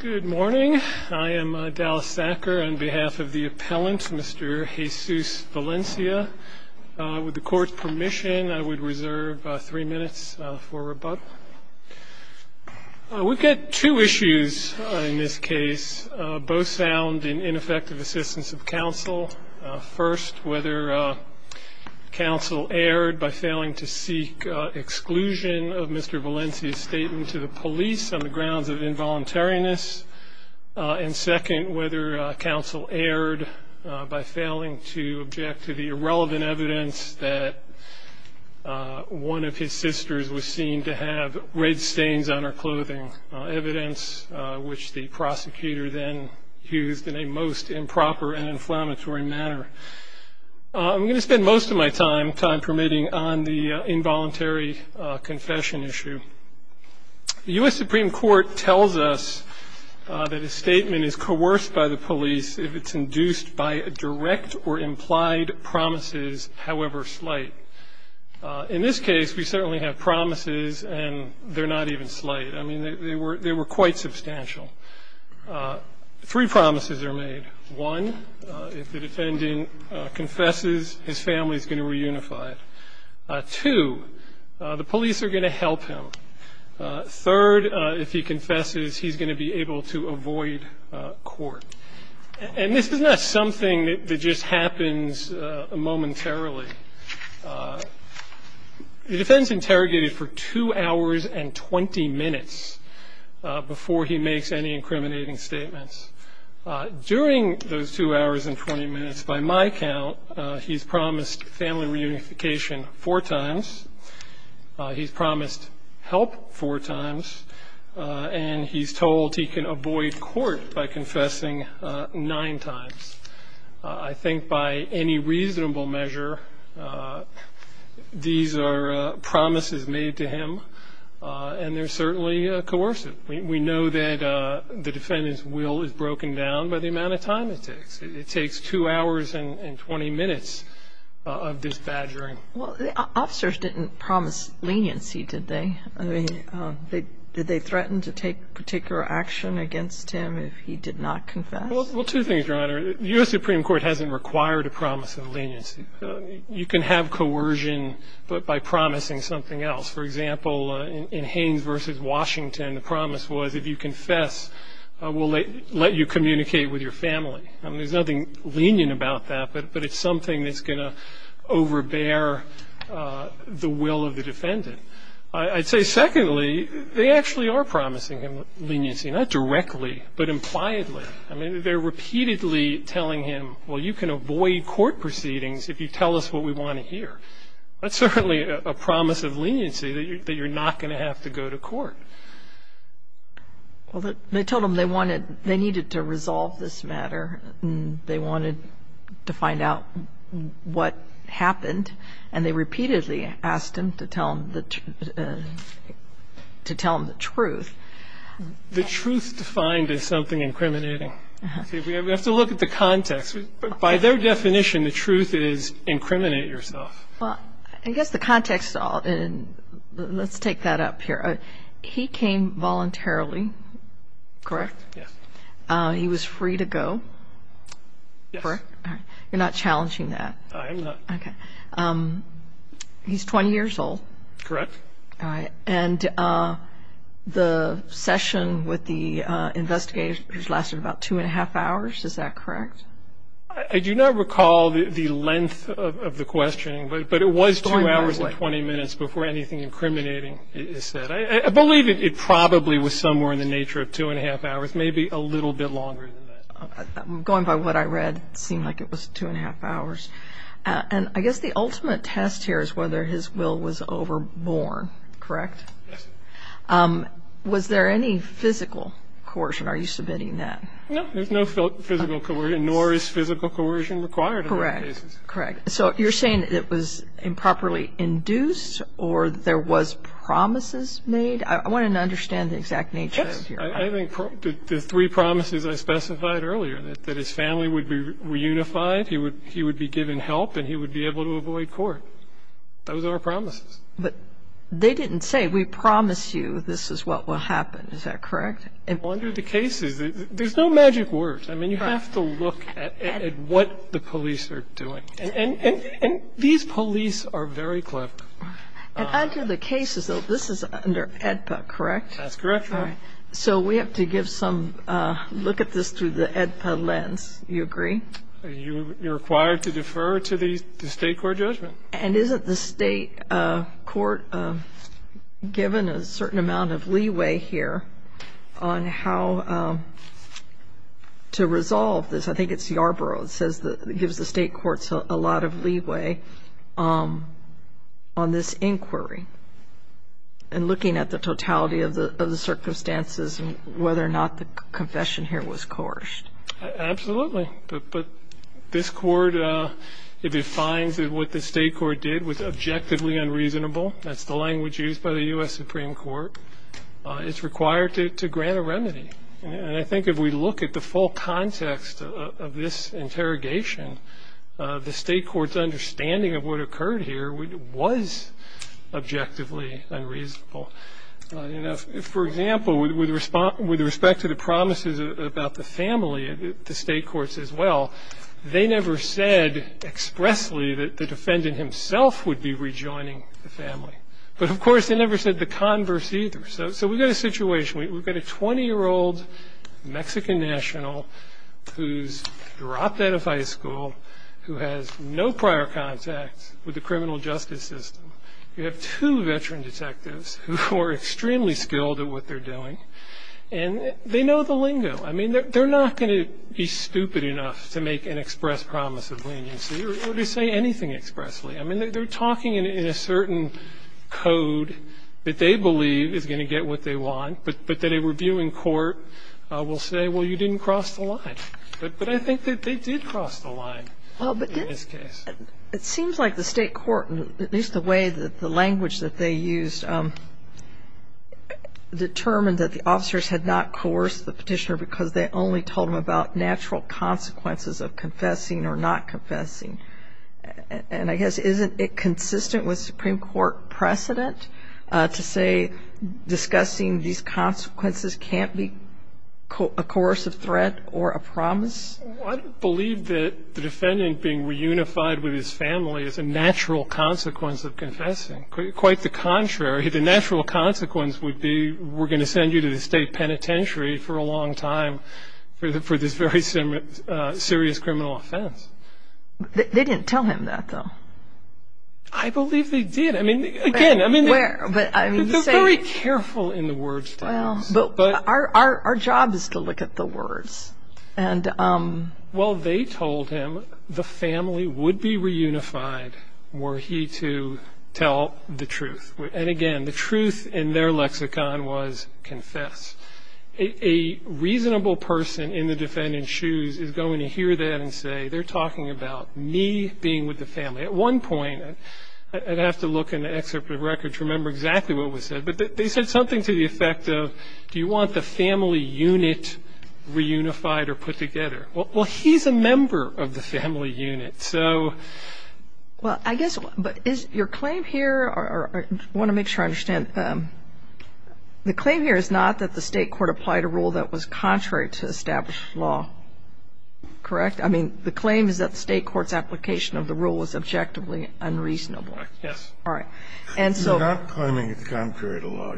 Good morning. I am Dallas Thacker. On behalf of the appellant, Mr. Jesus Valencia, with the court's permission, I would reserve three minutes for rebuttal. We've got two issues in this case, both found in ineffective assistance of counsel. First, whether counsel erred by failing to seek exclusion of Mr. Valencia's statement to the police on the grounds of involuntariness. And second, whether counsel erred by failing to object to the irrelevant evidence that one of his sisters was seen to have red stains on her clothing, evidence which the prosecutor then used in a most improper and inflammatory manner. I'm going to spend most of my time, time permitting, on the involuntary confession issue. The U.S. Supreme Court tells us that a statement is coerced by the police if it's induced by direct or implied promises, however slight. In this case, we certainly have promises, and they're not even slight. I mean, they were quite substantial. Three promises are made. One, if the defendant confesses, his family is going to reunify. Two, the police are going to help him. Third, if he confesses, he's going to be able to avoid court. And this is not something that just happens momentarily. The defendant is interrogated for 2 hours and 20 minutes before he makes any incriminating statements. During those 2 hours and 20 minutes, by my count, he's promised family reunification four times. He's promised help four times. And he's told he can avoid court by confessing nine times. I think by any reasonable measure, these are promises made to him, and they're certainly coercive. We know that the defendant's will is broken down by the amount of time it takes. It takes 2 hours and 20 minutes of this badgering. Well, the officers didn't promise leniency, did they? I mean, did they threaten to take particular action against him if he did not confess? Well, two things, Your Honor. The U.S. Supreme Court hasn't required a promise of leniency. You can have coercion, but by promising something else. For example, in Haynes v. Washington, the promise was if you confess, we'll let you communicate with your family. I mean, there's nothing lenient about that, but it's something that's going to overbear the will of the defendant. I'd say, secondly, they actually are promising him leniency, not directly, but impliedly. I mean, they're repeatedly telling him, well, you can avoid court proceedings if you tell us what we want to hear. That's certainly a promise of leniency that you're not going to have to go to court. Well, they told him they needed to resolve this matter and they wanted to find out what happened, and they repeatedly asked him to tell them the truth. The truth defined is something incriminating. We have to look at the context. By their definition, the truth is incriminate yourself. I guess the context, let's take that up here. He came voluntarily, correct? Correct, yes. He was free to go, correct? Yes. You're not challenging that? I am not. Okay. He's 20 years old. Correct. All right. And the session with the investigators lasted about two and a half hours, is that correct? I do not recall the length of the questioning, but it was two hours and 20 minutes before anything incriminating is said. I believe it probably was somewhere in the nature of two and a half hours, maybe a little bit longer than that. Going by what I read, it seemed like it was two and a half hours. And I guess the ultimate test here is whether his will was overborn, correct? Yes. Was there any physical coercion? Are you submitting that? No, there's no physical coercion, nor is physical coercion required. Correct, correct. So you're saying it was improperly induced or there was promises made? I want to understand the exact nature of your argument. Yes. I think the three promises I specified earlier, that his family would be reunified, he would be given help, and he would be able to avoid court, those are promises. But they didn't say, we promise you this is what will happen, is that correct? Well, under the cases, there's no magic words. I mean, you have to look at what the police are doing. And these police are very clever. And under the cases, though, this is under AEDPA, correct? That's correct, Your Honor. So we have to give some look at this through the AEDPA lens, you agree? You're required to defer to the State court judgment. And isn't the State court given a certain amount of leeway here on how to resolve this? I think it's Yarborough that gives the State courts a lot of leeway on this inquiry and looking at the totality of the circumstances and whether or not the confession here was coerced. Absolutely. But this court, if it finds that what the State court did was objectively unreasonable, that's the language used by the U.S. Supreme Court, it's required to grant a remedy. And I think if we look at the full context of this interrogation, the State court's understanding of what occurred here was objectively unreasonable. For example, with respect to the promises about the family, the State courts as well, they never said expressly that the defendant himself would be rejoining the family. But, of course, they never said the converse either. So we've got a situation. We've got a 20-year-old Mexican national who's dropped out of high school, who has no prior contact with the criminal justice system. You have two veteran detectives who are extremely skilled at what they're doing, and they know the lingo. I mean, they're not going to be stupid enough to make an express promise of leniency or to say anything expressly. I mean, they're talking in a certain code that they believe is going to get what they want, but that a reviewing court will say, well, you didn't cross the line. But I think that they did cross the line in this case. It seems like the State court, at least the way that the language that they used, determined that the officers had not coerced the petitioner because they only told them about natural consequences of confessing or not confessing. And I guess isn't it consistent with Supreme Court precedent to say discussing these consequences can't be a coercive threat or a promise? I believe that the defendant being reunified with his family is a natural consequence of confessing. Quite the contrary. The natural consequence would be we're going to send you to the State penitentiary for a long time for this very serious criminal offense. They didn't tell him that, though. I believe they did. I mean, again, they're very careful in the words they use. But our job is to look at the words. Well, they told him the family would be reunified were he to tell the truth. And, again, the truth in their lexicon was confess. A reasonable person in the defendant's shoes is going to hear that and say they're talking about me being with the family. At one point, I'd have to look in the excerpt of the record to remember exactly what was said, but they said something to the effect of do you want the family unit reunified or put together? Well, he's a member of the family unit, so. Well, I guess, but is your claim here, or I want to make sure I understand, the claim here is not that the State court applied a rule that was contrary to established law, correct? I mean, the claim is that the State court's application of the rule was objectively unreasonable. Yes. All right. You're not claiming it's contrary to law.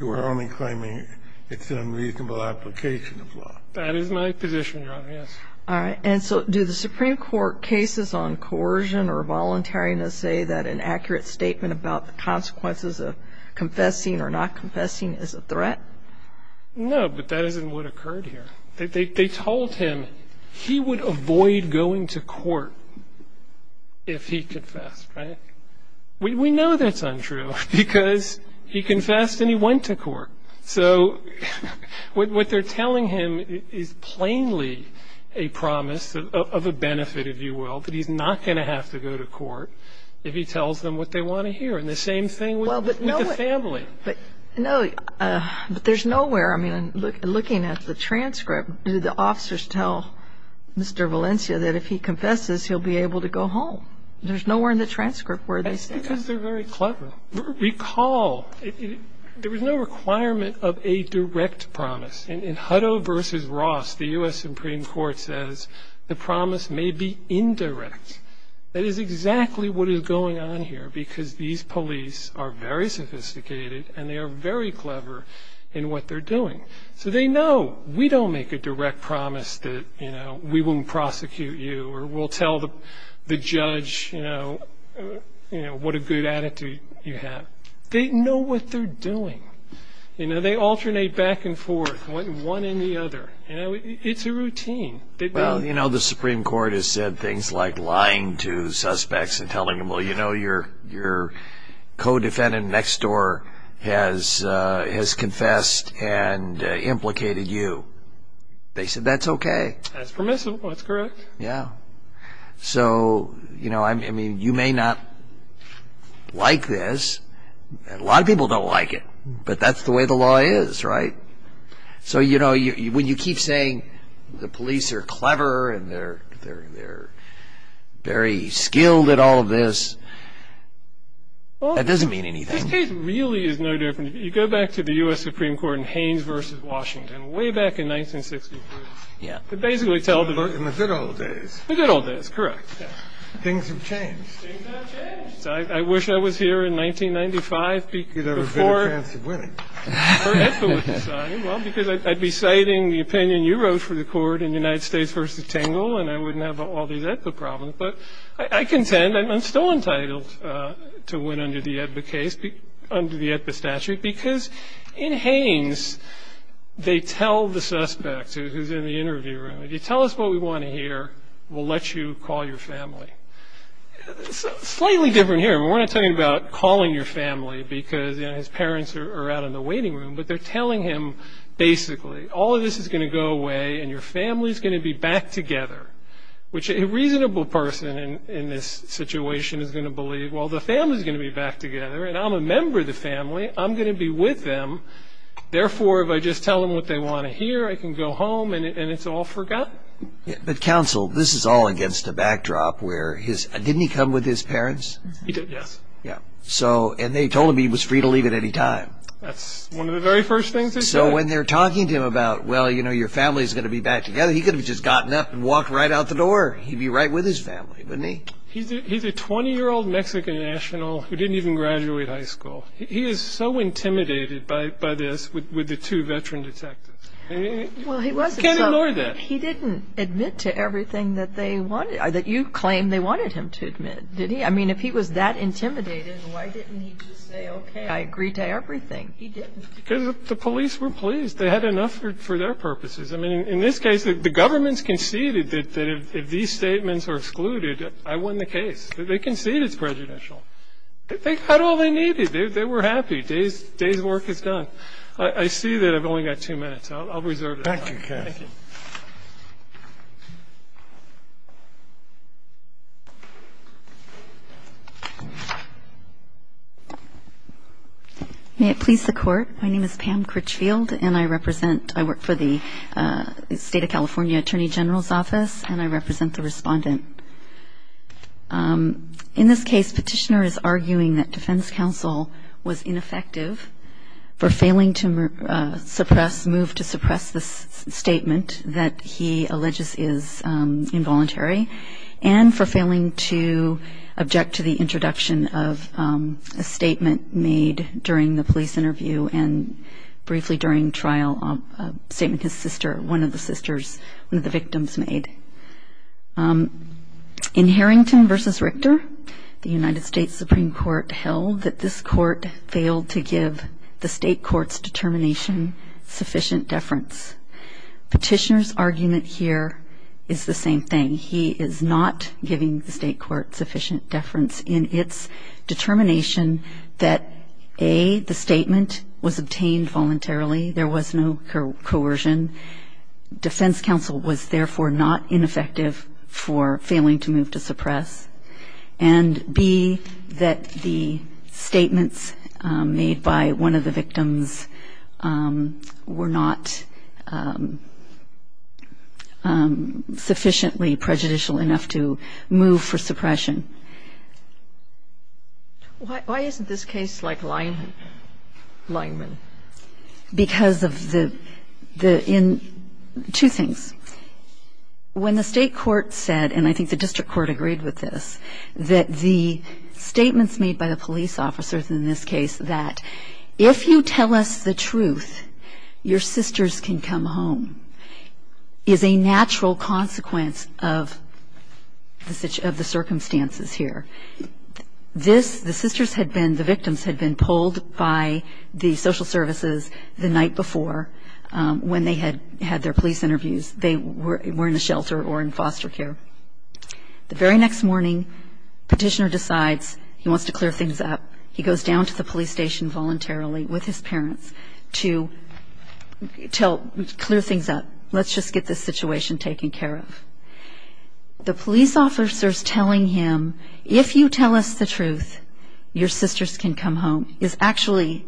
You are only claiming it's an unreasonable application of law. That is my position, Your Honor, yes. All right. And so do the Supreme Court cases on coercion or voluntariness say that an accurate statement about the consequences of confessing or not confessing is a threat? No, but that isn't what occurred here. They told him he would avoid going to court if he confessed, right? We know that's untrue because he confessed and he went to court. So what they're telling him is plainly a promise of a benefit, if you will, that he's not going to have to go to court if he tells them what they want to hear. And the same thing with the family. No, but there's nowhere, I mean, looking at the transcript, do the officers tell Mr. Valencia that if he confesses he'll be able to go home? There's nowhere in the transcript where they say that. I think because they're very clever. Recall, there was no requirement of a direct promise. In Hutto v. Ross, the U.S. Supreme Court says the promise may be indirect. That is exactly what is going on here because these police are very sophisticated and they are very clever in what they're doing. So they know we don't make a direct promise that, you know, we won't prosecute you or we'll tell the judge, you know, what a good attitude you have. They know what they're doing. You know, they alternate back and forth, one and the other. You know, it's a routine. Well, you know, the Supreme Court has said things like lying to suspects and telling them, well, you know, your co-defendant next door has confessed and implicated you. They said that's okay. That's permissible, that's correct. Yeah. So, you know, I mean, you may not like this. A lot of people don't like it, but that's the way the law is, right? So, you know, when you keep saying the police are clever and they're very skilled at all of this, that doesn't mean anything. This case really is no different. You go back to the U.S. Supreme Court in Haynes v. Washington way back in 1963. Yeah. They basically tell the verdict. In the good old days. In the good old days, correct. Yeah. Things have changed. Things have changed. I wish I was here in 1995 before EDPA was decided. Well, because I'd be citing the opinion you wrote for the court in United States v. Tingle and I wouldn't have all these EDPA problems. But I contend I'm still entitled to win under the EDPA case, under the EDPA statute, because in Haynes they tell the suspect who's in the interview room, if you tell us what we want to hear, we'll let you call your family. Slightly different here. We're not talking about calling your family because his parents are out in the waiting room, but they're telling him basically all of this is going to go away and your family's going to be back together, which a reasonable person in this situation is going to believe. Well, the family's going to be back together, and I'm a member of the family. I'm going to be with them. Therefore, if I just tell them what they want to hear, I can go home and it's all forgotten. But, counsel, this is all against a backdrop where his ñ didn't he come with his parents? He did, yes. Yeah. And they told him he was free to leave at any time. That's one of the very first things they said. So when they're talking to him about, well, you know, your family's going to be back together, he could have just gotten up and walked right out the door. He'd be right with his family, wouldn't he? He's a 20-year-old Mexican national who didn't even graduate high school. He is so intimidated by this with the two veteran detectives. Well, he wasn't. You can't ignore that. He didn't admit to everything that they wanted ñ that you claimed they wanted him to admit, did he? I mean, if he was that intimidated, why didn't he just say, okay, I agree to everything? He didn't. Because the police were pleased. They had enough for their purposes. I mean, in this case, the government's conceded that if these statements are excluded, I won the case. They conceded it's prejudicial. They had all they needed. They were happy. Day's work is done. I see that I've only got two minutes. I'll reserve it. Thank you, Kevin. Thank you. May it please the Court, my name is Pam Critchfield, and I represent ñ I work for the State of California Attorney General's Office, and I represent the respondent. In this case, Petitioner is arguing that defense counsel was ineffective for failing to suppress ñ move to suppress the statement that he alleges is involuntary and for failing to object to the introduction of a statement made during the police interview and briefly during trial, a statement his sister, one of the sisters, one of the victims made. In Harrington v. Richter, the United States Supreme Court held that this court failed to give the state court's determination sufficient deference. Petitioner's argument here is the same thing. He is not giving the state court sufficient deference in its determination that, a, the statement was obtained voluntarily, there was no coercion, defense counsel was therefore not ineffective for failing to move to suppress, and, b, that the statements made by one of the victims were not sufficiently prejudicial enough to move for suppression. Sotomayor, why isn't this case like Lyman? Because of the ñ two things. When the state court said, and I think the district court agreed with this, that the statements made by the police officers in this case that, if you tell us the truth, your sisters can come home, is a natural consequence of the circumstances here. This ñ the sisters had been ñ the victims had been pulled by the social services the night before when they had their police interviews. They were in the shelter or in foster care. The very next morning, Petitioner decides he wants to clear things up. He goes down to the police station voluntarily with his parents to tell ñ clear things up. Let's just get this situation taken care of. The police officers telling him, if you tell us the truth, your sisters can come home, is actually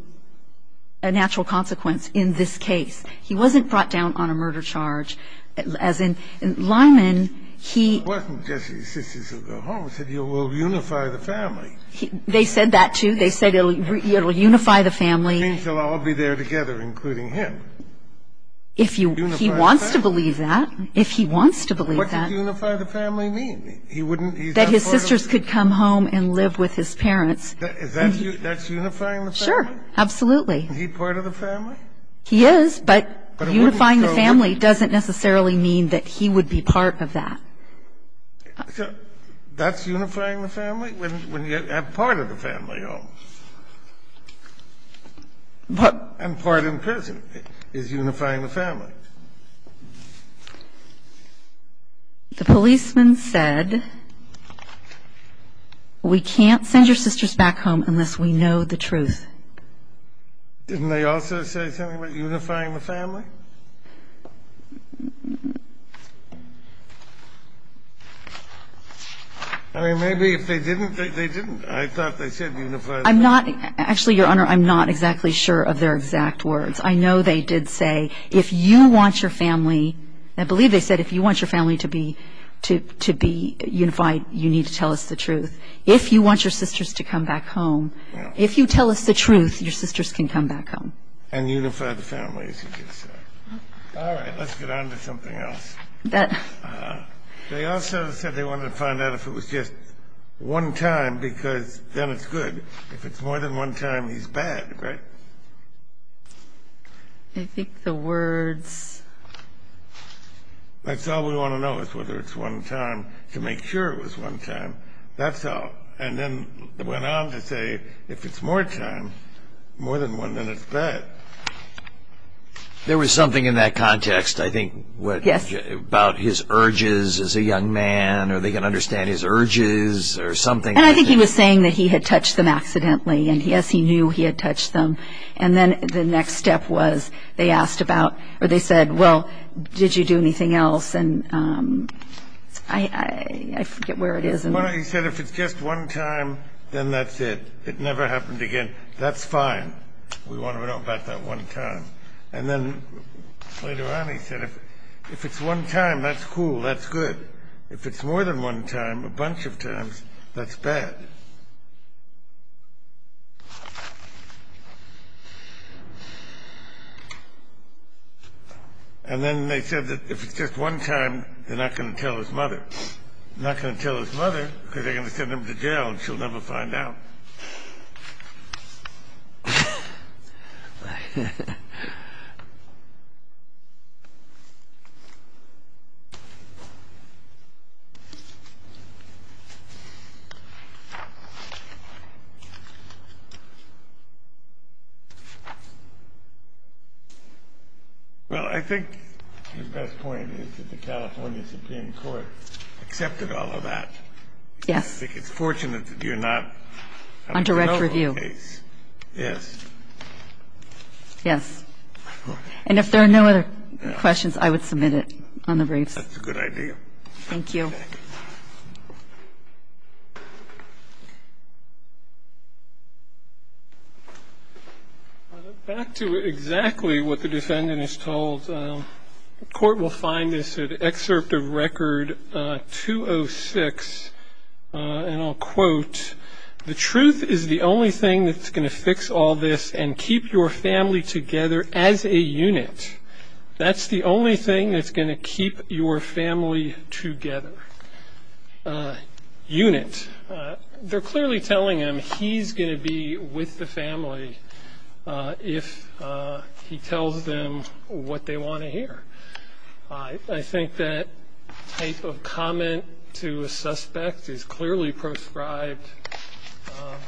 a natural consequence in this case. He wasn't brought down on a murder charge. As in ñ Lyman, he ñ It wasn't just the sisters who go home. It said you will unify the family. They said that, too. They said it will unify the family. It means they'll all be there together, including him. If you ñ Unify the family. He wants to believe that. If he wants to believe that. What does unify the family mean? He wouldn't ñ he's not part of ñ That his sisters could come home and live with his parents. Is that unifying the family? Sure. Absolutely. Is he part of the family? He is, but unifying the family doesn't necessarily mean that he would be part of that. So that's unifying the family, when you have part of the family home? But ñ And part in prison is unifying the family. The policeman said, we can't send your sisters back home unless we know the truth. Didn't they also say something about unifying the family? I mean, maybe if they didn't, they didn't. I thought they said unify the family. I'm not ñ actually, Your Honor, I'm not exactly sure of their exact words. I know they did say, if you want your family ñ I believe they said if you want your family to be unified, you need to tell us the truth. If you want your sisters to come back home, if you tell us the truth, your sisters can come back home. And unify the family, as you just said. All right. Let's get on to something else. They also said they wanted to find out if it was just one time, because then it's good. If it's more than one time, he's bad, right? I think the words ñ That's all we want to know is whether it's one time, to make sure it was one time. That's all. And then they went on to say if it's more time, more than one, then it's bad. There was something in that context, I think, about his urges as a young man, or they can understand his urges or something. And I think he was saying that he had touched them accidentally. And, yes, he knew he had touched them. And then the next step was they asked about ñ or they said, well, did you do anything else? And I forget where it is. He said if it's just one time, then that's it. It never happened again. That's fine. We want to know about that one time. And then later on he said if it's one time, that's cool, that's good. If it's more than one time, a bunch of times, that's bad. And then they said that if it's just one time, they're not going to tell his mother. They're not going to tell his mother because they're going to send him to jail and she'll never find out. Thank you. MS. GOTTLIEB Well, I think the best point is that the California Supreme Court accepted all of that. GOTTLIEB Yes. MS. GOTTLIEB I think it's fortunate that you're not on the mobile case. MS. GOTTLIEB On direct review. MS. GOTTLIEB Yes. And if there are no other questions, I would submit it on the briefs. GOTTLIEB That's a good idea. MS. GOTTLIEB Thank you. MR. GOTTLIEB Back to exactly what the defendant is told. The Court will find this in Excerpt of Record 206. And I'll quote, The truth is the only thing that's going to fix all this and keep your family together as a unit. That's the only thing that's going to keep your family together. Unit. They're clearly telling him he's going to be with the family if he tells them what they want to hear. I think that type of comment to a suspect is clearly proscribed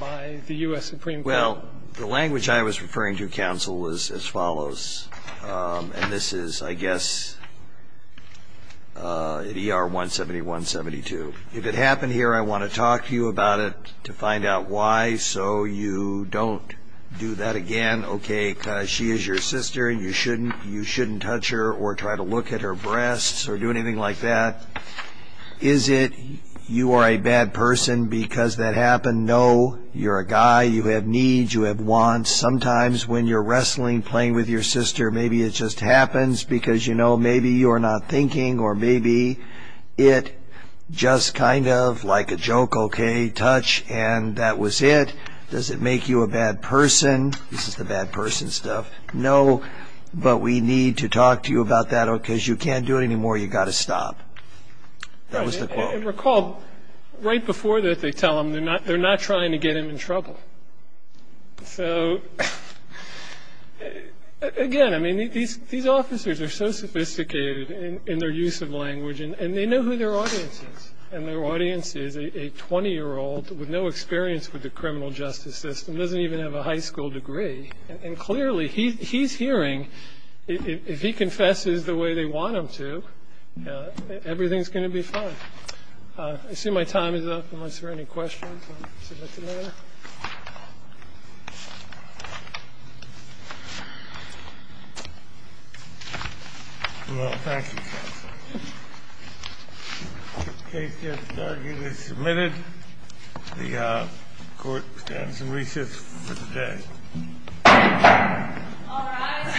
by the U.S. Supreme Court. Well, the language I was referring to, counsel, is as follows. And this is, I guess, ER 17172. If it happened here, I want to talk to you about it to find out why so you don't do that again. Okay, because she is your sister and you shouldn't touch her or try to look at her breasts or do anything like that. Is it you are a bad person because that happened? No. You're a guy. You have needs. You have wants. Sometimes when you're wrestling, playing with your sister, maybe it just happens because, you know, maybe you're not thinking or maybe it just kind of, like a joke, okay, touch and that was it. Does it make you a bad person? This is the bad person stuff. No, but we need to talk to you about that because you can't do it anymore. You've got to stop. That was the quote. And recall, right before this, they tell them they're not trying to get him in trouble. So, again, I mean, these officers are so sophisticated in their use of language, and they know who their audience is. And their audience is a 20-year-old with no experience with the criminal justice system, doesn't even have a high school degree. And, clearly, he's hearing. If he confesses the way they want him to, everything's going to be fine. I assume my time is up unless there are any questions. Thank you. Well, thank you, counsel. The case is submitted. The court stands in recess for today. All rise.